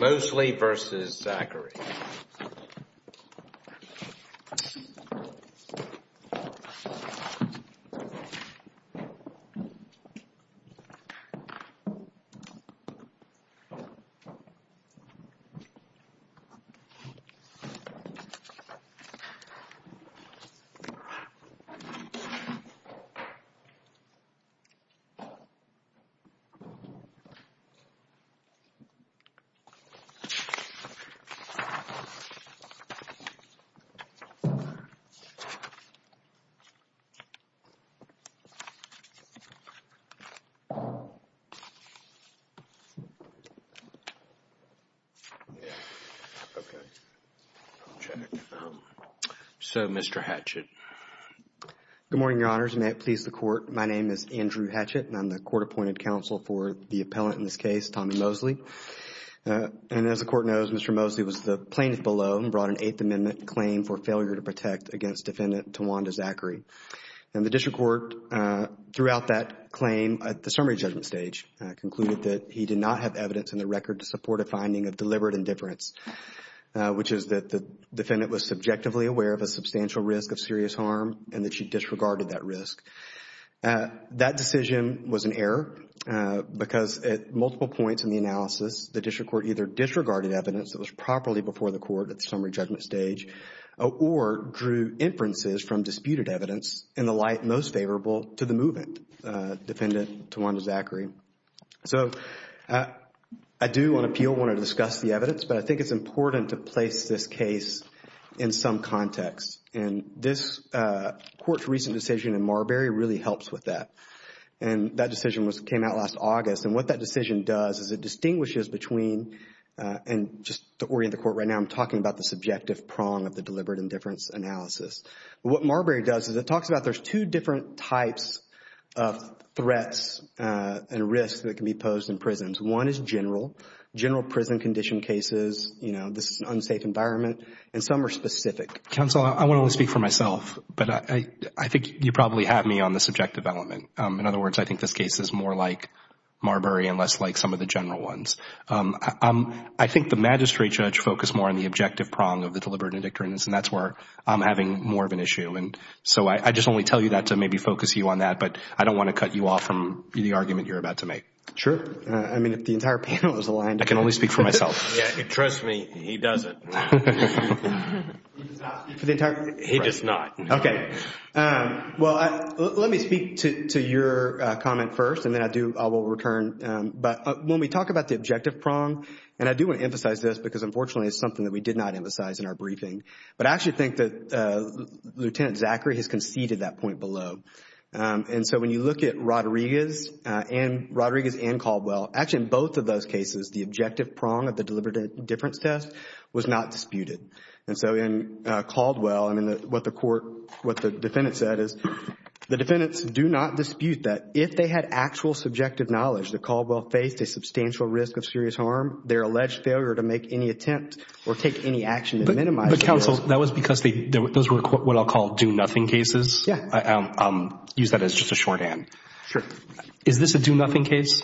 Mosley, Jr. v. Zachery So, Mr. Hatchett. Good morning, Your Honors. May it please the Court, my name is Andrew Hatchett, and I'm the Court-Appointed Counsel for the appellant in this case, Tommy Mosley. And as the Court knows, Mr. Mosley was the plaintiff below and brought an Eighth Amendment claim for failure to protect against Defendant Towanda Zachery. And the District Court, throughout that claim, at the summary judgment stage, concluded that he did not have evidence in the record to support a finding of deliberate indifference, which is that the defendant was subjectively aware of a substantial risk of serious harm and that she disregarded that risk. That decision was an error because at multiple points in the analysis, the District Court either disregarded evidence that was properly before the Court at the summary judgment stage or drew inferences from disputed evidence in the light most favorable to the movement, Defendant Towanda Zachery. So, I do, on appeal, want to discuss the evidence, but I think it's important to place this case in some context. And this Court's recent decision in Marbury really helps with that. And that decision came out last August, and what that decision does is it distinguishes between, and just to orient the Court right now, I'm talking about the subjective prong of the deliberate indifference analysis. What Marbury does is it talks about there's two different types of threats and risks that can be posed in prisons. One is general, general prison condition cases, you know, this is an unsafe environment, and some are specific. Counsel, I want to only speak for myself, but I think you probably have me on the subjective element. In other words, I think this case is more like Marbury and less like some of the general ones. I think the magistrate judge focused more on the objective prong of the deliberate indifference, and that's where I'm having more of an issue. And so I just only tell you that to maybe focus you on that, but I don't want to cut you off from the argument you're about to make. Sure. I mean, if the entire panel is aligned. I can only speak for myself. Trust me, he doesn't. He does not. Okay. Well, let me speak to your comment first, and then I will return. But when we talk about the objective prong, and I do want to emphasize this, because unfortunately it's something that we did not emphasize in our briefing, but I actually think that Lieutenant Zachary has conceded that point below. And so when you look at Rodriguez and Caldwell, actually in both of those cases, the objective prong of the deliberate indifference test was not disputed. And so in Caldwell, I mean, what the defendant said is the defendants do not dispute that if they had actual subjective knowledge that Caldwell faced a substantial risk of serious harm, their alleged failure to make any attempt or take any action to minimize the risk. But, counsel, that was because those were what I'll call do-nothing cases. Yeah. I'll use that as just a shorthand. Sure. Is this a do-nothing case?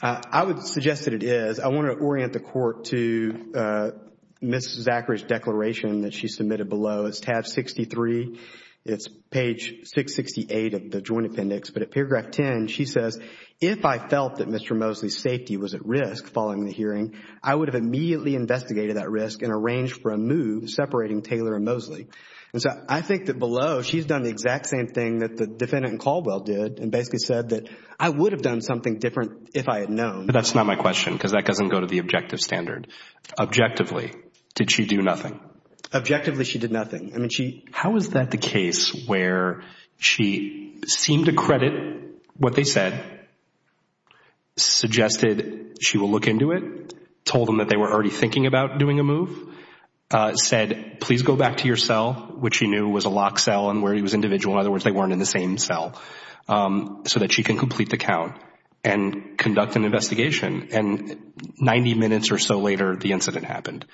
I would suggest that it is. I want to orient the Court to Ms. Zachary's declaration that she submitted below. It's tab 63. It's page 668 of the Joint Appendix. But at paragraph 10, she says, if I felt that Mr. Mosley's safety was at risk following the hearing, I would have immediately investigated that risk and arranged for a move separating Taylor and Mosley. And so I think that below, she's done the exact same thing that the defendant in Caldwell did and basically said that I would have done something different if I had known. But that's not my question because that doesn't go to the objective standard. Objectively, did she do nothing? Objectively, she did nothing. I mean, how is that the case where she seemed to credit what they said, suggested she will look into it, told them that they were already thinking about doing a move, said, please go back to your cell, which she knew was a locked cell and where he was individual. In other words, they weren't in the same cell, so that she can complete the count and conduct an investigation. And 90 minutes or so later, the incident happened.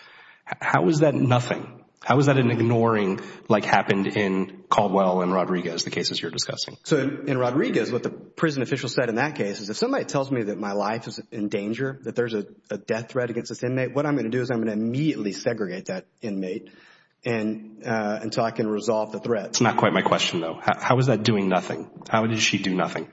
How is that nothing? How is that an ignoring like happened in Caldwell and Rodriguez, the cases you're discussing? So in Rodriguez, what the prison official said in that case is, if somebody tells me that my life is in danger, that there's a death threat against this inmate, what I'm going to do is I'm going to immediately segregate that inmate until I can resolve the threat. That's not quite my question, though. How is that doing nothing? How did she do nothing?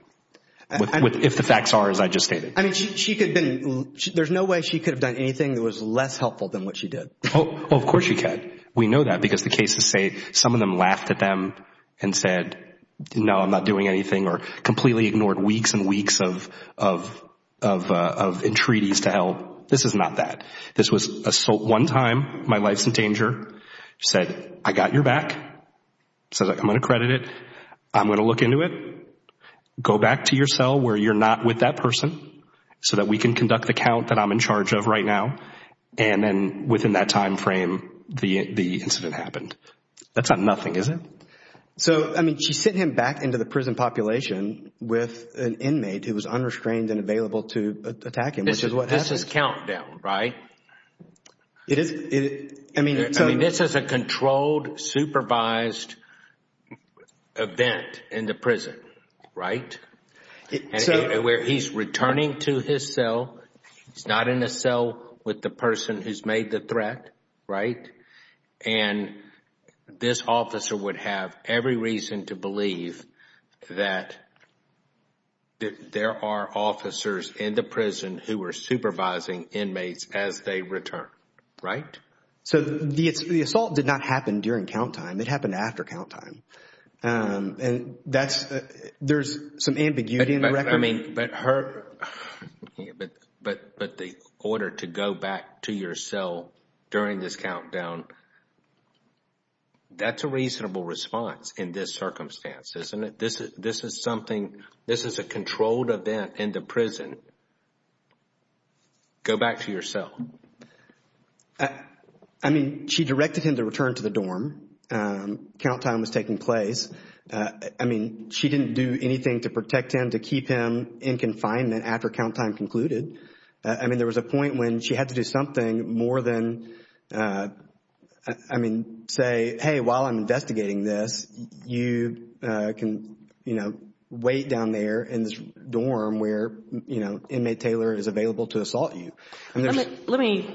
If the facts are as I just stated. I mean, she could have been, there's no way she could have done anything that was less helpful than what she did. Well, of course she could. We know that because the cases say some of them laughed at them and said, no, I'm not doing anything, or completely ignored weeks and weeks of entreaties to help. This is not that. This was one time my life's in danger. She said, I got your back. She said, I'm going to credit it. I'm going to look into it. Go back to your cell where you're not with that person so that we can conduct the count that I'm in charge of right now. And then within that time frame, the incident happened. That's not nothing, is it? So, I mean, she sent him back into the prison population with an inmate who was unrestrained and available to attack him, which is what happened. This is countdown, right? I mean, this is a controlled, supervised event in the prison, right? Where he's returning to his cell. He's not in a cell with the person who's made the threat, right? And this officer would have every reason to believe that there are officers in the prison who are supervising inmates as they return, right? So the assault did not happen during count time. It happened after count time. And there's some ambiguity in the record. But the order to go back to your cell during this countdown, that's a reasonable response in this circumstance, isn't it? This is something, this is a controlled event in the prison. Go back to your cell. Count time was taking place. I mean, she didn't do anything to protect him, to keep him in confinement after count time concluded. I mean, there was a point when she had to do something more than, I mean, say, hey, while I'm investigating this, you can, you know, wait down there in this dorm where, you know, inmate Taylor is available to assault you. Let me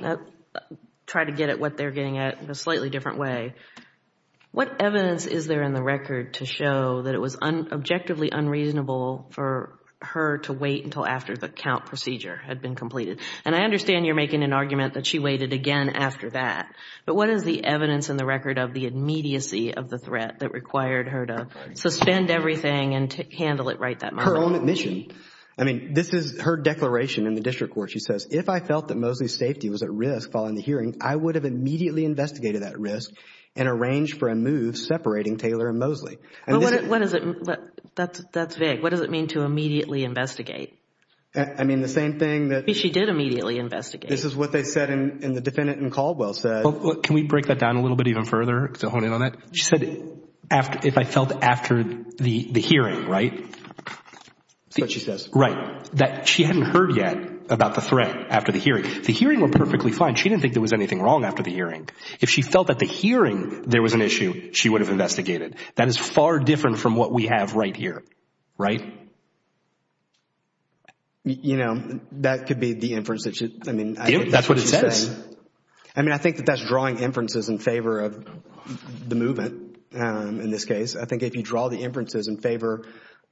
try to get at what they're getting at in a slightly different way. What evidence is there in the record to show that it was objectively unreasonable for her to wait until after the count procedure had been completed? And I understand you're making an argument that she waited again after that. But what is the evidence in the record of the immediacy of the threat that required her to suspend everything and handle it right that moment? Her own admission. I mean, this is her declaration in the district court. She says, if I felt that Moseley's safety was at risk following the hearing, I would have immediately investigated that risk and arranged for a move separating Taylor and Moseley. But what does it, that's vague. What does it mean to immediately investigate? I mean, the same thing that. She did immediately investigate. This is what they said in the defendant in Caldwell said. Can we break that down a little bit even further to hone in on that? She said, if I felt after the hearing, right. That's what she says. Right. That she hadn't heard yet about the threat after the hearing. The hearing went perfectly fine. She didn't think there was anything wrong after the hearing. If she felt that the hearing there was an issue, she would have investigated. That is far different from what we have right here. Right? You know, that could be the inference that she, I mean. That's what it says. I mean, I think that that's drawing inferences in favor of the movement in this case. I think if you draw the inferences in favor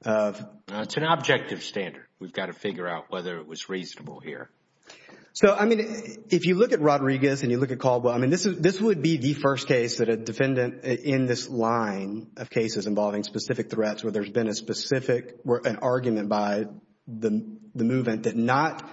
of. It's an objective standard. We've got to figure out whether it was reasonable here. So, I mean, if you look at Rodriguez and you look at Caldwell. I mean, this would be the first case that a defendant in this line of cases involving specific threats where there's been a specific argument by the movement that not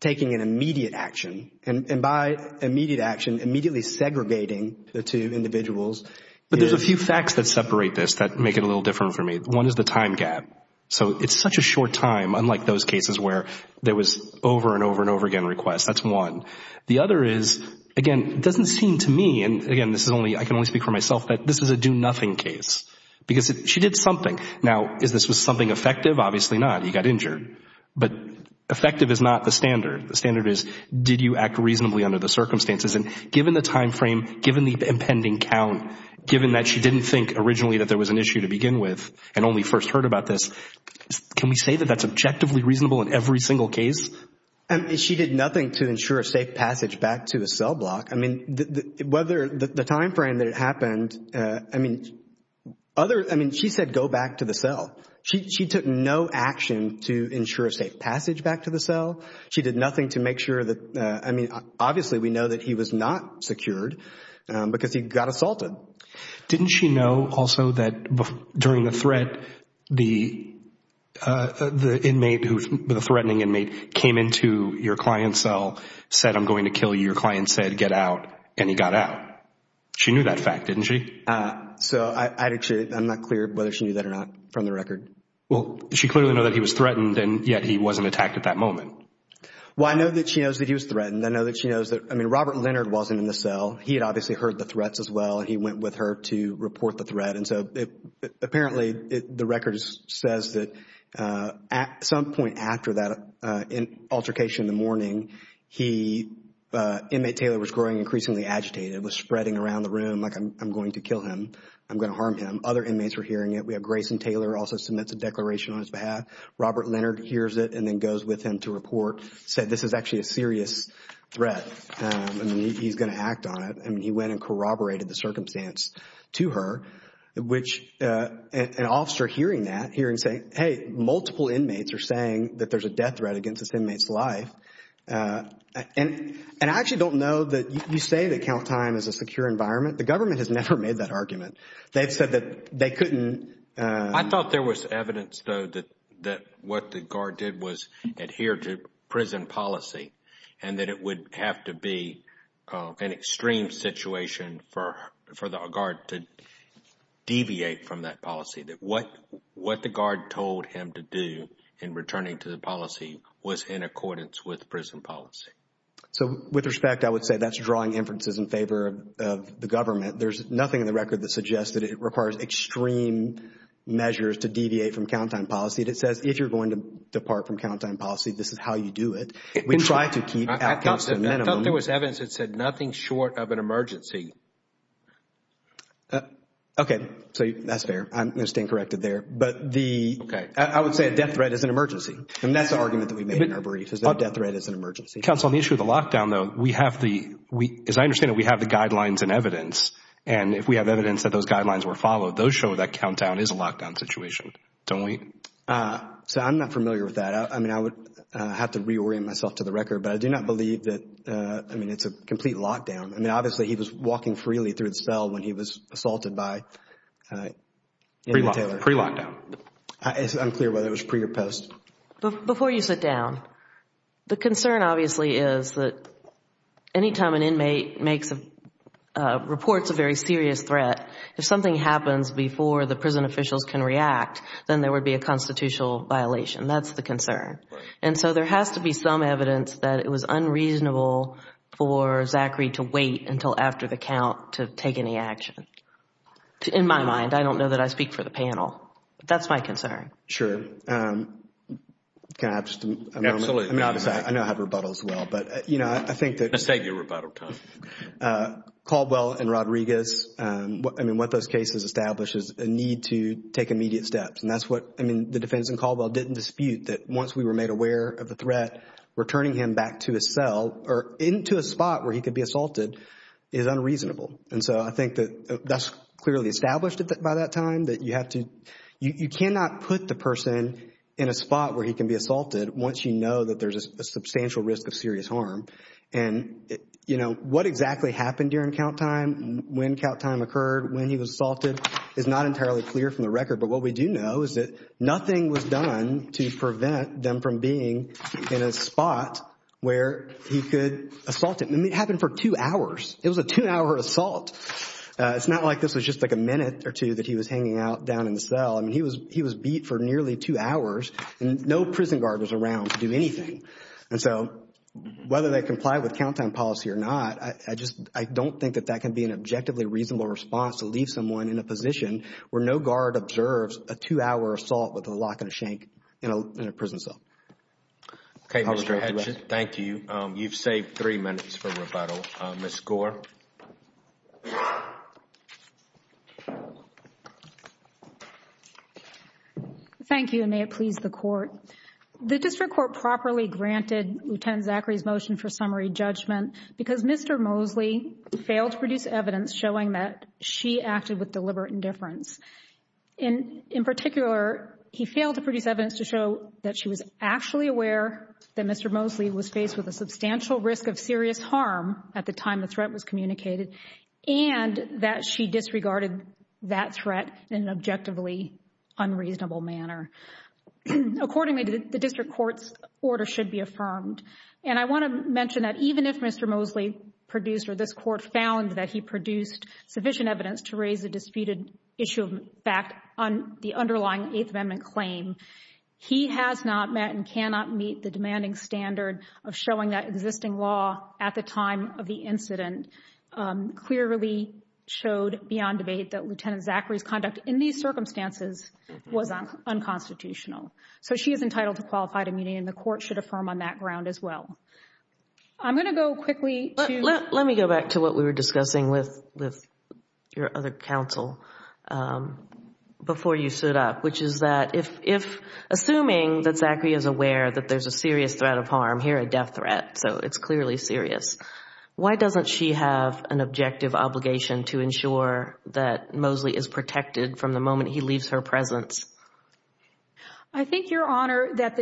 taking an immediate action. And by immediate action, immediately segregating the two individuals. But there's a few facts that separate this that make it a little different for me. One is the time gap. So it's such a short time, unlike those cases where there was over and over and over again requests. That's one. The other is, again, it doesn't seem to me. And, again, this is only, I can only speak for myself, that this is a do-nothing case. Because she did something. Now, is this was something effective? Obviously not. You got injured. But effective is not the standard. The standard is did you act reasonably under the circumstances. And given the time frame, given the impending count, given that she didn't think originally that there was an issue to begin with and only first heard about this, can we say that that's objectively reasonable in every single case? She did nothing to ensure a safe passage back to the cell block. I mean, whether the time frame that it happened, I mean, she said go back to the cell. She took no action to ensure a safe passage back to the cell. She did nothing to make sure that, I mean, obviously we know that he was not secured because he got assaulted. Didn't she know also that during the threat, the inmate, the threatening inmate, came into your client's cell, said I'm going to kill you. Your client said get out. And he got out. She knew that fact, didn't she? So I'm not clear whether she knew that or not from the record. Well, does she clearly know that he was threatened and yet he wasn't attacked at that moment? Well, I know that she knows that he was threatened. I know that she knows that, I mean, Robert Leonard wasn't in the cell. He had obviously heard the threats as well, and he went with her to report the threat. And so apparently the record says that at some point after that altercation in the morning, he, inmate Taylor, was growing increasingly agitated, was spreading around the room, like I'm going to kill him, I'm going to harm him. Other inmates were hearing it. Robert Leonard hears it and then goes with him to report, said this is actually a serious threat. I mean, he's going to act on it. I mean, he went and corroborated the circumstance to her, which an officer hearing that, hearing saying, hey, multiple inmates are saying that there's a death threat against this inmate's life. And I actually don't know that you say that count time is a secure environment. The government has never made that argument. They've said that they couldn't. I thought there was evidence, though, that what the guard did was adhere to prison policy and that it would have to be an extreme situation for the guard to deviate from that policy, that what the guard told him to do in returning to the policy was in accordance with prison policy. So with respect, I would say that's drawing inferences in favor of the government. There's nothing in the record that suggests that it requires extreme measures to deviate from count time policy. It says if you're going to depart from count time policy, this is how you do it. We try to keep outcomes to a minimum. I thought there was evidence that said nothing short of an emergency. Okay. So that's fair. I'm staying corrected there. But the, I would say a death threat is an emergency. And that's the argument that we made in our brief, is that a death threat is an emergency. Counsel, on the issue of the lockdown, though, we have the, as I understand it, we have the guidelines and evidence. And if we have evidence that those guidelines were followed, those show that countdown is a lockdown situation, don't we? So I'm not familiar with that. I mean, I would have to reorient myself to the record. But I do not believe that, I mean, it's a complete lockdown. I mean, obviously, he was walking freely through the cell when he was assaulted by Amy Taylor. Pre-lockdown. It's unclear whether it was pre or post. Before you sit down, the concern, obviously, is that any time an inmate makes a, reports a very serious threat, if something happens before the prison officials can react, then there would be a constitutional violation. That's the concern. And so there has to be some evidence that it was unreasonable for Zachary to wait until after the count to take any action. In my mind. I don't know that I speak for the panel. But that's my concern. Sure. Can I have just a moment? Absolutely. I mean, obviously, I know I have rebuttals as well. But, you know, I think that— Just take your rebuttal time. Caldwell and Rodriguez, I mean, what those cases establish is a need to take immediate steps. And that's what, I mean, the defense in Caldwell didn't dispute that once we were made aware of the threat, returning him back to his cell or into a spot where he could be assaulted is unreasonable. And so I think that that's clearly established by that time, that you have to, you cannot put the person in a spot where he can be assaulted once you know that there's a substantial risk of serious harm. And, you know, what exactly happened during count time, when count time occurred, when he was assaulted, is not entirely clear from the record. But what we do know is that nothing was done to prevent them from being in a spot where he could assault him. I mean, it happened for two hours. It was a two-hour assault. It's not like this was just like a minute or two that he was hanging out down in the cell. I mean, he was beat for nearly two hours, and no prison guard was around to do anything. And so whether they comply with count time policy or not, I just don't think that that can be an objectively reasonable response to leave someone in a position where no guard observes a two-hour assault with a lock and a shank in a prison cell. Okay, Mr. Hedges, thank you. You've saved three minutes for rebuttal. Ms. Gore. Thank you, and may it please the Court. The district court properly granted Lieutenant Zachary's motion for summary judgment because Mr. Mosley failed to produce evidence showing that she acted with deliberate indifference. In particular, he failed to produce evidence to show that she was actually aware that Mr. Mosley was faced with a substantial risk of serious harm at the time the threat was communicated and that she disregarded that threat in an objectively unreasonable manner. Accordingly, the district court's order should be affirmed. And I want to mention that even if Mr. Mosley produced or this court found that he produced sufficient evidence to raise a disputed issue of fact on the underlying Eighth Amendment claim, he has not met and cannot meet the demanding standard of showing that existing law at the time of the incident clearly showed beyond debate that Lieutenant Zachary's conduct in these circumstances was unconstitutional. So she is entitled to qualified immunity, and the Court should affirm on that ground as well. I'm going to go quickly to— Let me go back to what we were discussing with your other counsel before you stood up, which is that if—assuming that Zachary is aware that there's a serious threat of harm, here a death threat, so it's clearly serious, why doesn't she have an objective obligation to ensure that Mosley is protected from the moment he leaves her presence? I think, Your Honor, that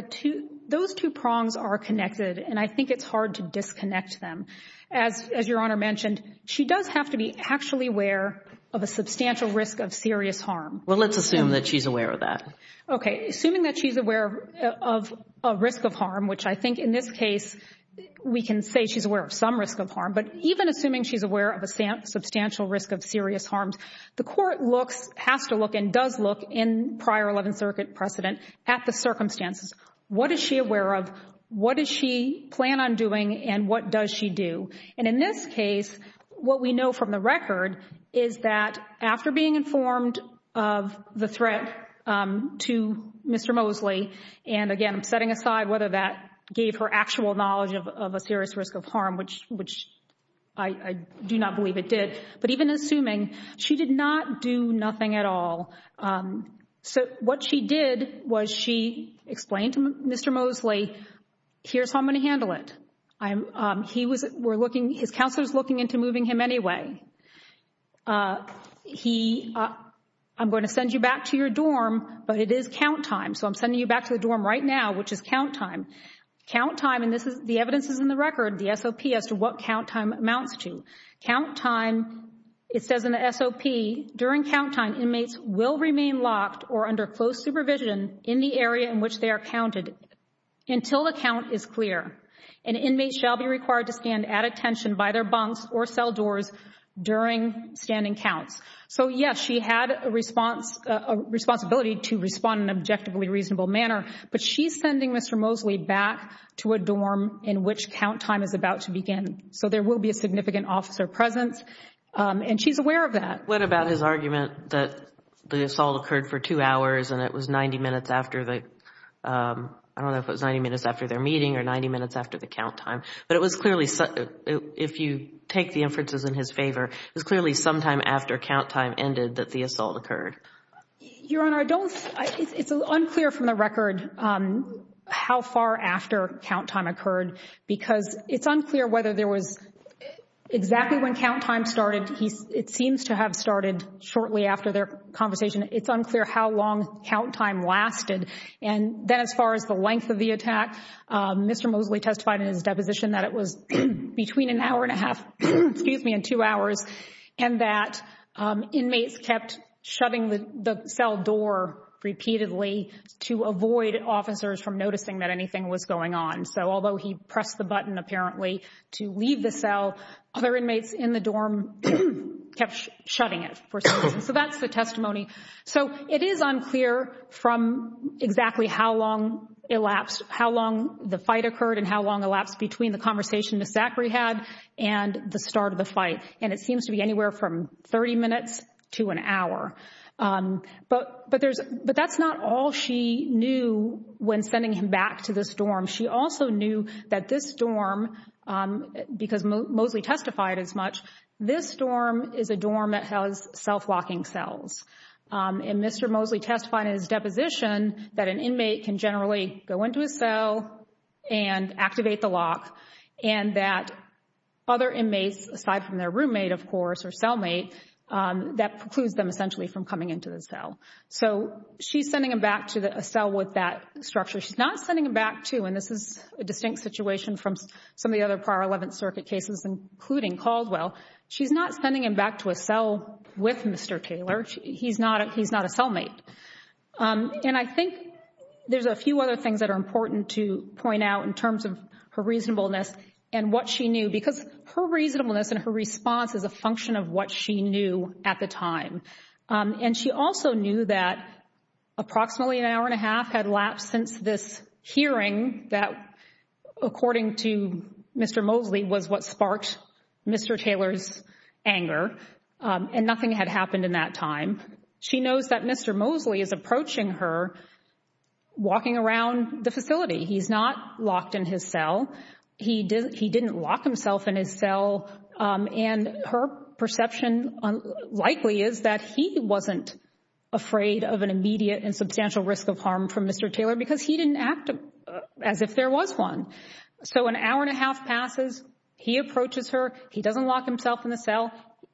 those two prongs are connected, and I think it's hard to disconnect them. As Your Honor mentioned, she does have to be actually aware of a substantial risk of serious harm. Well, let's assume that she's aware of that. Okay. Assuming that she's aware of a risk of harm, which I think in this case, we can say she's aware of some risk of harm, but even assuming she's aware of a substantial risk of serious harm, the Court has to look and does look in prior Eleventh Circuit precedent at the circumstances. What is she aware of? What does she plan on doing? And what does she do? And in this case, what we know from the record is that after being informed of the threat to Mr. Mosley, and again, I'm setting aside whether that gave her actual knowledge of a serious risk of harm, which I do not believe it did, but even assuming, she did not do nothing at all. So what she did was she explained to Mr. Mosley, here's how I'm going to handle it. His counselor is looking into moving him anyway. I'm going to send you back to your dorm, but it is count time, so I'm sending you back to the dorm right now, which is count time. Count time, and the evidence is in the record, the SOP, as to what count time amounts to. Count time, it says in the SOP, during count time, inmates will remain locked or under close supervision in the area in which they are counted until the count is clear. An inmate shall be required to stand at attention by their bunks or cell doors during standing counts. So yes, she had a responsibility to respond in an objectively reasonable manner, but she's sending Mr. Mosley back to a dorm in which count time is about to begin. So there will be a significant officer presence, and she's aware of that. What about his argument that the assault occurred for two hours, and it was 90 minutes after the, I don't know if it was 90 minutes after their meeting or 90 minutes after the count time, but it was clearly, if you take the inferences in his favor, it was clearly sometime after count time ended that the assault occurred. Your Honor, I don't, it's unclear from the record how far after count time occurred because it's unclear whether there was, exactly when count time started, it seems to have started shortly after their conversation. It's unclear how long count time lasted. And then as far as the length of the attack, Mr. Mosley testified in his deposition that it was between an hour and a half, excuse me, and two hours, and that inmates kept shutting the cell door repeatedly to avoid officers from noticing that anything was going on. So although he pressed the button, apparently, to leave the cell, other inmates in the dorm kept shutting it for some reason. So that's the testimony. So it is unclear from exactly how long elapsed, how long the fight occurred and how long elapsed between the conversation Ms. Zachary had and the start of the fight. And it seems to be anywhere from 30 minutes to an hour. But that's not all she knew when sending him back to this dorm. She also knew that this dorm, because Mosley testified as much, this dorm is a dorm that has self-locking cells. And Mr. Mosley testified in his deposition that an inmate can generally go into a cell and activate the lock and that other inmates, aside from their roommate, of course, or cellmate, that precludes them essentially from coming into the cell. So she's sending him back to a cell with that structure. She's not sending him back to, and this is a distinct situation from some of the other prior 11th Circuit cases, including Caldwell, she's not sending him back to a cell with Mr. Taylor. He's not a cellmate. And I think there's a few other things that are important to point out in terms of her reasonableness and what she knew because her reasonableness and her response is a function of what she knew at the time. And she also knew that approximately an hour and a half had lapsed since this hearing that, according to Mr. Mosley, was what sparked Mr. Taylor's anger, and nothing had happened in that time. She knows that Mr. Mosley is approaching her walking around the facility. He's not locked in his cell. He didn't lock himself in his cell. And her perception likely is that he wasn't afraid of an immediate and substantial risk of harm from Mr. Taylor because he didn't act as if there was one. So an hour and a half passes. He approaches her. He doesn't lock himself in the cell.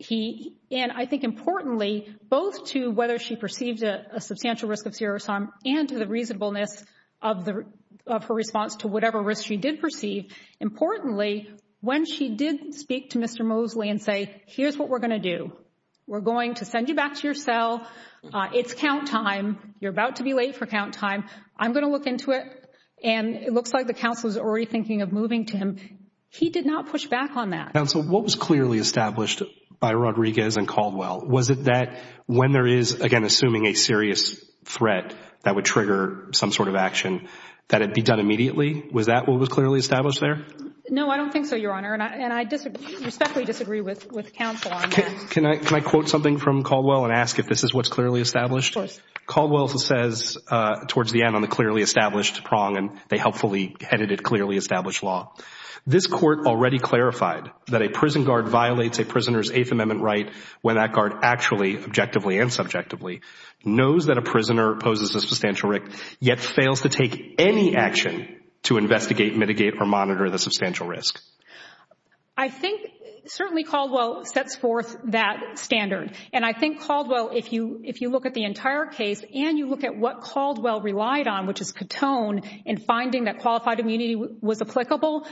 And I think importantly, both to whether she perceived a substantial risk of serious harm and to the reasonableness of her response to whatever risk she did perceive, importantly, when she did speak to Mr. Mosley and say, here's what we're going to do. We're going to send you back to your cell. It's count time. You're about to be late for count time. I'm going to look into it. And it looks like the counsel is already thinking of moving to him. He did not push back on that. Counsel, what was clearly established by Rodriguez and Caldwell? Was it that when there is, again, assuming a serious threat that would trigger some sort of action, that it be done immediately? Was that what was clearly established there? No, I don't think so, Your Honor. And I respectfully disagree with counsel on that. Can I quote something from Caldwell and ask if this is what's clearly established? Of course. Caldwell says towards the end on the clearly established prong, and they helpfully headed it clearly established law. This court already clarified that a prison guard violates a prisoner's Eighth Amendment right when that guard actually, objectively and subjectively, knows that a prisoner poses a substantial risk, yet fails to take any action to investigate, mitigate, or monitor the substantial risk. I think certainly Caldwell sets forth that standard. And I think Caldwell, if you look at the entire case, and you look at what Caldwell relied on, which is Catone, in finding that qualified immunity was applicable,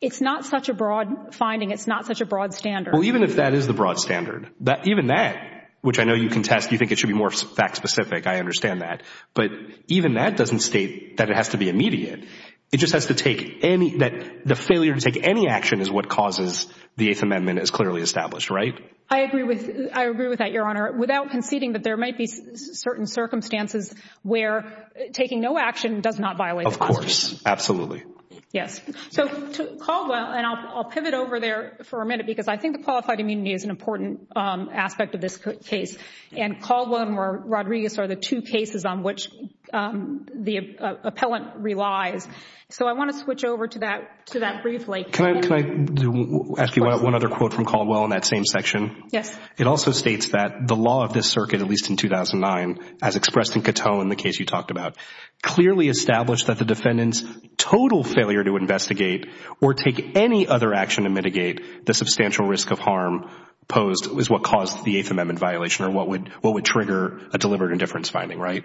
it's not such a broad finding. It's not such a broad standard. Well, even if that is the broad standard, even that, which I know you contest. You think it should be more fact specific. I understand that. But even that doesn't state that it has to be immediate. It just has to take any, that the failure to take any action is what causes the Eighth Amendment as clearly established, right? I agree with that, Your Honor. Without conceding that there might be certain circumstances where taking no action does not violate the Eighth Amendment. Of course. Absolutely. Yes. So Caldwell, and I'll pivot over there for a minute, because I think the qualified immunity is an important aspect of this case. And Caldwell and Rodriguez are the two cases on which the appellant relies. So I want to switch over to that briefly. Can I ask you one other quote from Caldwell in that same section? Yes. It also states that the law of this circuit, at least in 2009, as expressed in Cato in the case you talked about, clearly established that the defendant's total failure to investigate or take any other action to mitigate the substantial risk of harm posed is what caused the Eighth Amendment violation or what would trigger a deliberate indifference finding, right?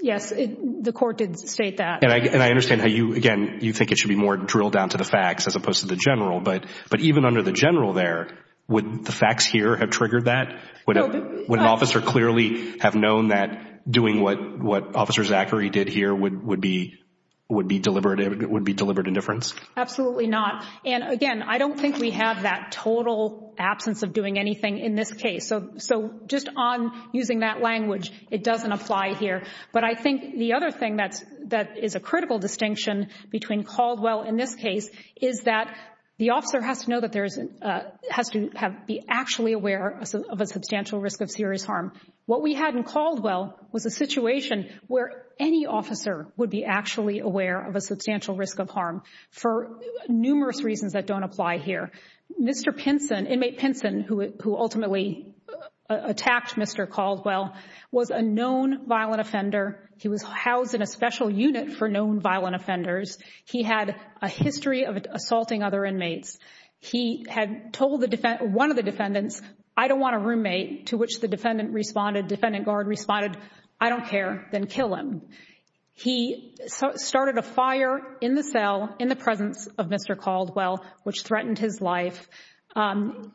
Yes. The court did state that. But even under the general there, would the facts here have triggered that? Would an officer clearly have known that doing what Officer Zachary did here would be deliberate indifference? Absolutely not. And again, I don't think we have that total absence of doing anything in this case. So just on using that language, it doesn't apply here. But I think the other thing that is a critical distinction between Caldwell and this case is that the officer has to know that there is a— has to be actually aware of a substantial risk of serious harm. What we had in Caldwell was a situation where any officer would be actually aware of a substantial risk of harm for numerous reasons that don't apply here. Mr. Pinson, Inmate Pinson, who ultimately attacked Mr. Caldwell, was a known violent offender. He was housed in a special unit for known violent offenders. He had a history of assaulting other inmates. He had told one of the defendants, I don't want a roommate, to which the defendant responded, defendant guard responded, I don't care, then kill him. He started a fire in the cell in the presence of Mr. Caldwell, which threatened his life. And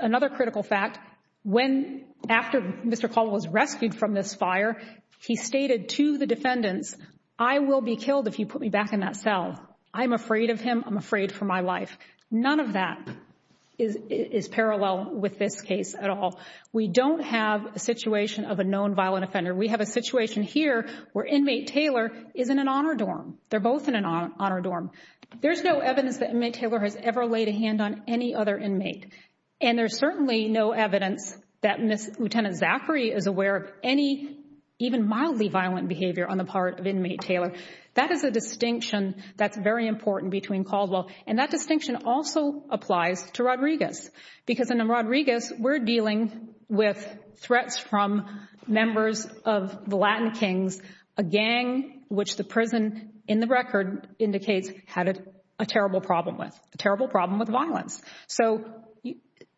another critical fact, when—after Mr. Caldwell was rescued from this fire, he stated to the defendants, I will be killed if you put me back in that cell. I'm afraid of him. I'm afraid for my life. None of that is parallel with this case at all. We don't have a situation of a known violent offender. We have a situation here where Inmate Taylor is in an honor dorm. They're both in an honor dorm. There's no evidence that Inmate Taylor has ever laid a hand on any other inmate. And there's certainly no evidence that Ms.—Lieutenant Zachary is aware of any, even mildly violent behavior on the part of Inmate Taylor. That is a distinction that's very important between Caldwell. And that distinction also applies to Rodriguez. Because in Rodriguez, we're dealing with threats from members of the Latin Kings, a gang which the prison in the record indicates had a terrible problem with, a terrible problem with violence.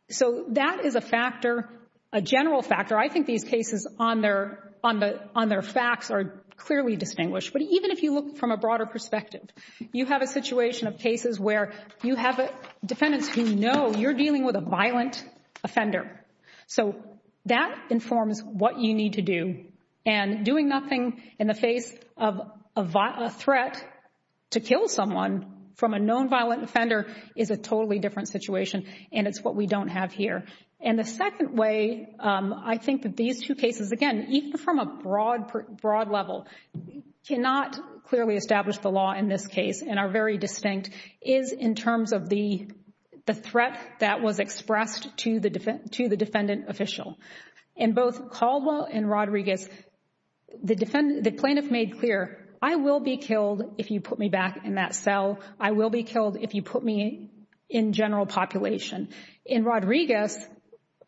So that is a factor, a general factor. I think these cases on their facts are clearly distinguished. But even if you look from a broader perspective, you have a situation of cases where you have defendants who know you're dealing with a violent offender. So that informs what you need to do. And doing nothing in the face of a threat to kill someone from a known violent offender is a totally different situation. And it's what we don't have here. And the second way I think that these two cases, again, even from a broad level, cannot clearly establish the law in this case and are very distinct, is in terms of the threat that was expressed to the defendant official. In both Caldwell and Rodriguez, the plaintiff made clear, I will be killed if you put me back in that cell. I will be killed if you put me in general population. In Rodriguez,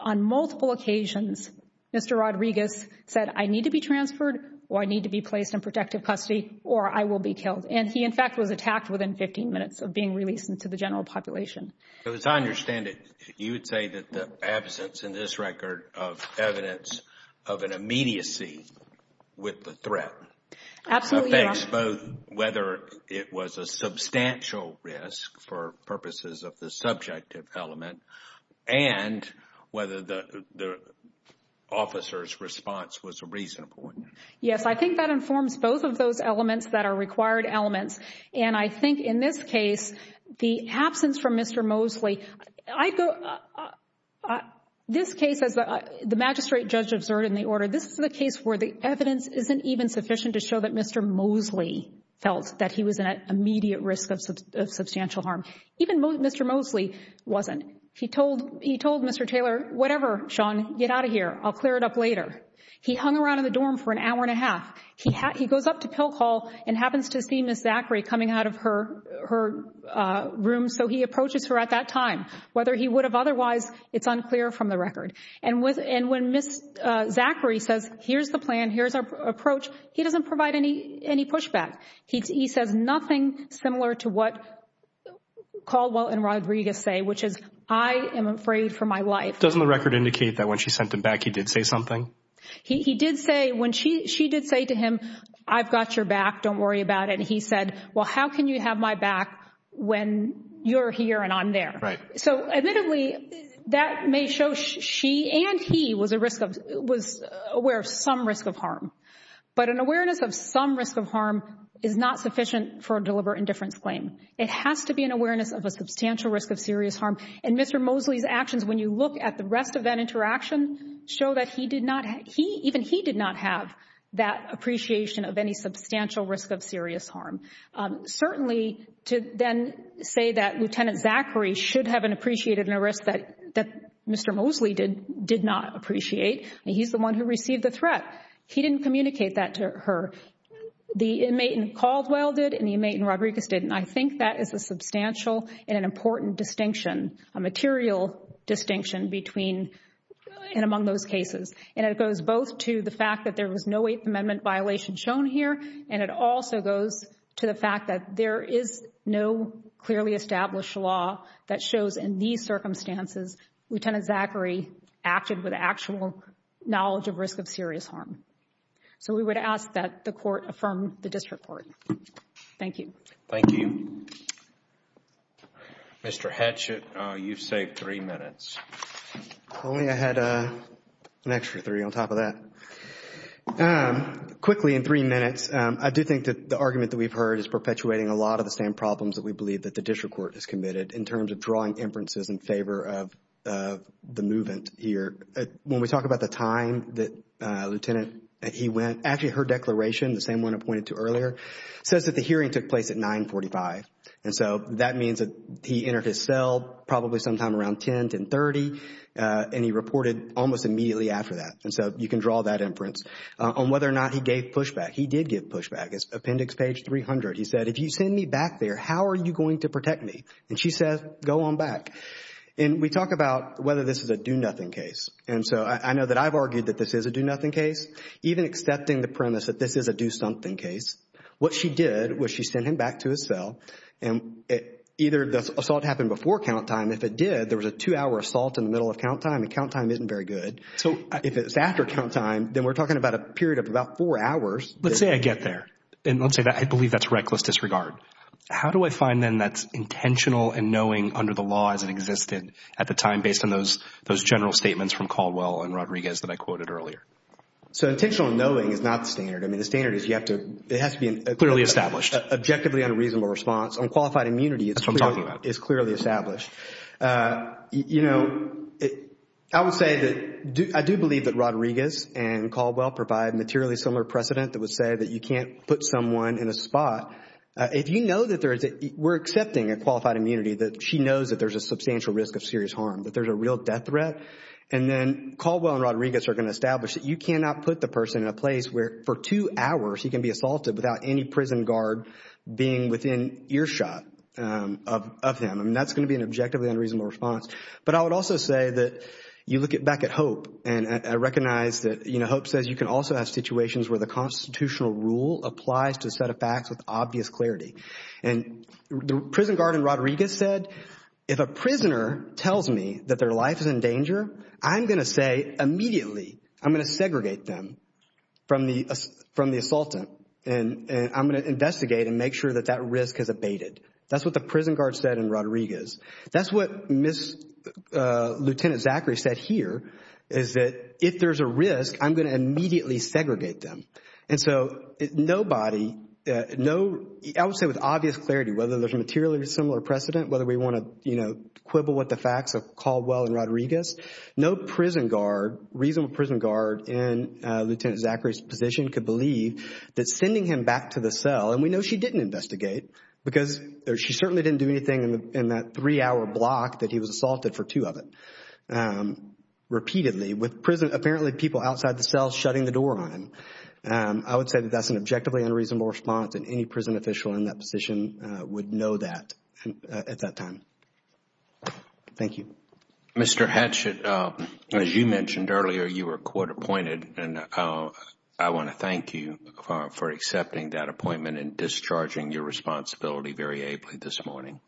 on multiple occasions, Mr. Rodriguez said, I need to be transferred or I need to be placed in protective custody or I will be killed. And he, in fact, was attacked within 15 minutes of being released into the general population. As I understand it, you would say that the absence in this record of evidence of an immediacy with the threat affects both whether it was a substantial risk for purposes of the subjective element and whether the officer's response was a reasonable one. Yes, I think that informs both of those elements that are required elements. And I think in this case, the absence from Mr. Mosley, this case, as the magistrate judge observed in the order, this is the case where the evidence isn't even sufficient to show that Mr. Mosley felt that he was at immediate risk of substantial harm. Even Mr. Mosley wasn't. He told Mr. Taylor, whatever, Sean, get out of here, I'll clear it up later. He hung around in the dorm for an hour and a half. He goes up to Pilk Hall and happens to see Ms. Zachary coming out of her room, so he approaches her at that time. Whether he would have otherwise, it's unclear from the record. And when Ms. Zachary says, here's the plan, here's our approach, he doesn't provide any pushback. He says nothing similar to what Caldwell and Rodriguez say, which is, I am afraid for my life. Doesn't the record indicate that when she sent him back, he did say something? He did say, when she did say to him, I've got your back, don't worry about it, he said, well, how can you have my back when you're here and I'm there? So admittedly, that may show she and he was aware of some risk of harm. But an awareness of some risk of harm is not sufficient for a deliberate indifference claim. It has to be an awareness of a substantial risk of serious harm. And Mr. Mosley's actions, when you look at the rest of that interaction, show that even he did not have that appreciation of any substantial risk of serious harm. Certainly, to then say that Lieutenant Zachary should have an appreciated and a risk that Mr. Mosley did not appreciate, he's the one who received the threat, he didn't communicate that to her. The inmate in Caldwell did and the inmate in Rodriguez didn't. I think that is a substantial and an important distinction, a material distinction between and among those cases. And it goes both to the fact that there was no Eighth Amendment violation shown here and it also goes to the fact that there is no clearly established law that shows in these circumstances Lieutenant Zachary acted with actual knowledge of risk of serious harm. So we would ask that the court affirm the district court. Thank you. Thank you. Mr. Hatchett, you've saved three minutes. Only I had an extra three on top of that. Quickly, in three minutes, I do think that the argument that we've heard is perpetuating a lot of the same problems that we believe that the district court has committed in terms of drawing inferences in favor of the movement here. When we talk about the time that Lieutenant, that he went, actually her declaration, the same one I pointed to earlier, says that the hearing took place at 945. And so that means that he entered his cell probably sometime around 10, 1030, and he reported almost immediately after that. And so you can draw that inference on whether or not he gave pushback. He did give pushback. It's appendix page 300. He said, if you send me back there, how are you going to protect me? And she says, go on back. And we talk about whether this is a do-nothing case. And so I know that I've argued that this is a do-nothing case, even accepting the premise that this is a do-something case. What she did was she sent him back to his cell, and either the assault happened before count time. If it did, there was a two-hour assault in the middle of count time, and count time isn't very good. So if it's after count time, then we're talking about a period of about four hours. Let's say I get there, and let's say that I believe that's reckless disregard. How do I find then that's intentional and knowing under the law as it existed at the time, based on those general statements from Caldwell and Rodriguez that I quoted earlier? So intentional knowing is not the standard. I mean, the standard is you have to – it has to be – Clearly established. On qualified immunity, it's clearly established. That's what I'm talking about. You know, I would say that I do believe that Rodriguez and Caldwell provide materially similar precedent that would say that you can't put someone in a spot. If you know that we're accepting a qualified immunity, that she knows that there's a substantial risk of serious harm, that there's a real death threat, and then Caldwell and Rodriguez are going to establish that you cannot put the person in a place where for two hours he can be assaulted without any prison guard being within earshot of him. That's going to be an objectively unreasonable response. But I would also say that you look back at Hope, and I recognize that, you know, Hope says you can also have situations where the constitutional rule applies to a set of facts with obvious clarity. And the prison guard in Rodriguez said, if a prisoner tells me that their life is in danger, I'm going to say immediately, I'm going to segregate them from the assaultant, and I'm going to investigate and make sure that that risk is abated. That's what the prison guard said in Rodriguez. That's what Lieutenant Zachary said here, is that if there's a risk, I'm going to immediately segregate them. And so nobody, I would say with obvious clarity, whether there's a materially similar precedent, whether we want to, you know, quibble what the facts of Caldwell and Rodriguez, no prison guard, reasonable prison guard in Lieutenant Zachary's position, could believe that sending him back to the cell, and we know she didn't investigate because she certainly didn't do anything in that three-hour block that he was assaulted for two of them. Repeatedly, with prison, apparently people outside the cell shutting the door on him, I would say that that's an objectively unreasonable response, and any prison official in that position would know that at that time. Thank you. Mr. Hatchett, as you mentioned earlier, you were court appointed, and I want to thank you for accepting that appointment and discharging your responsibility very ably this morning.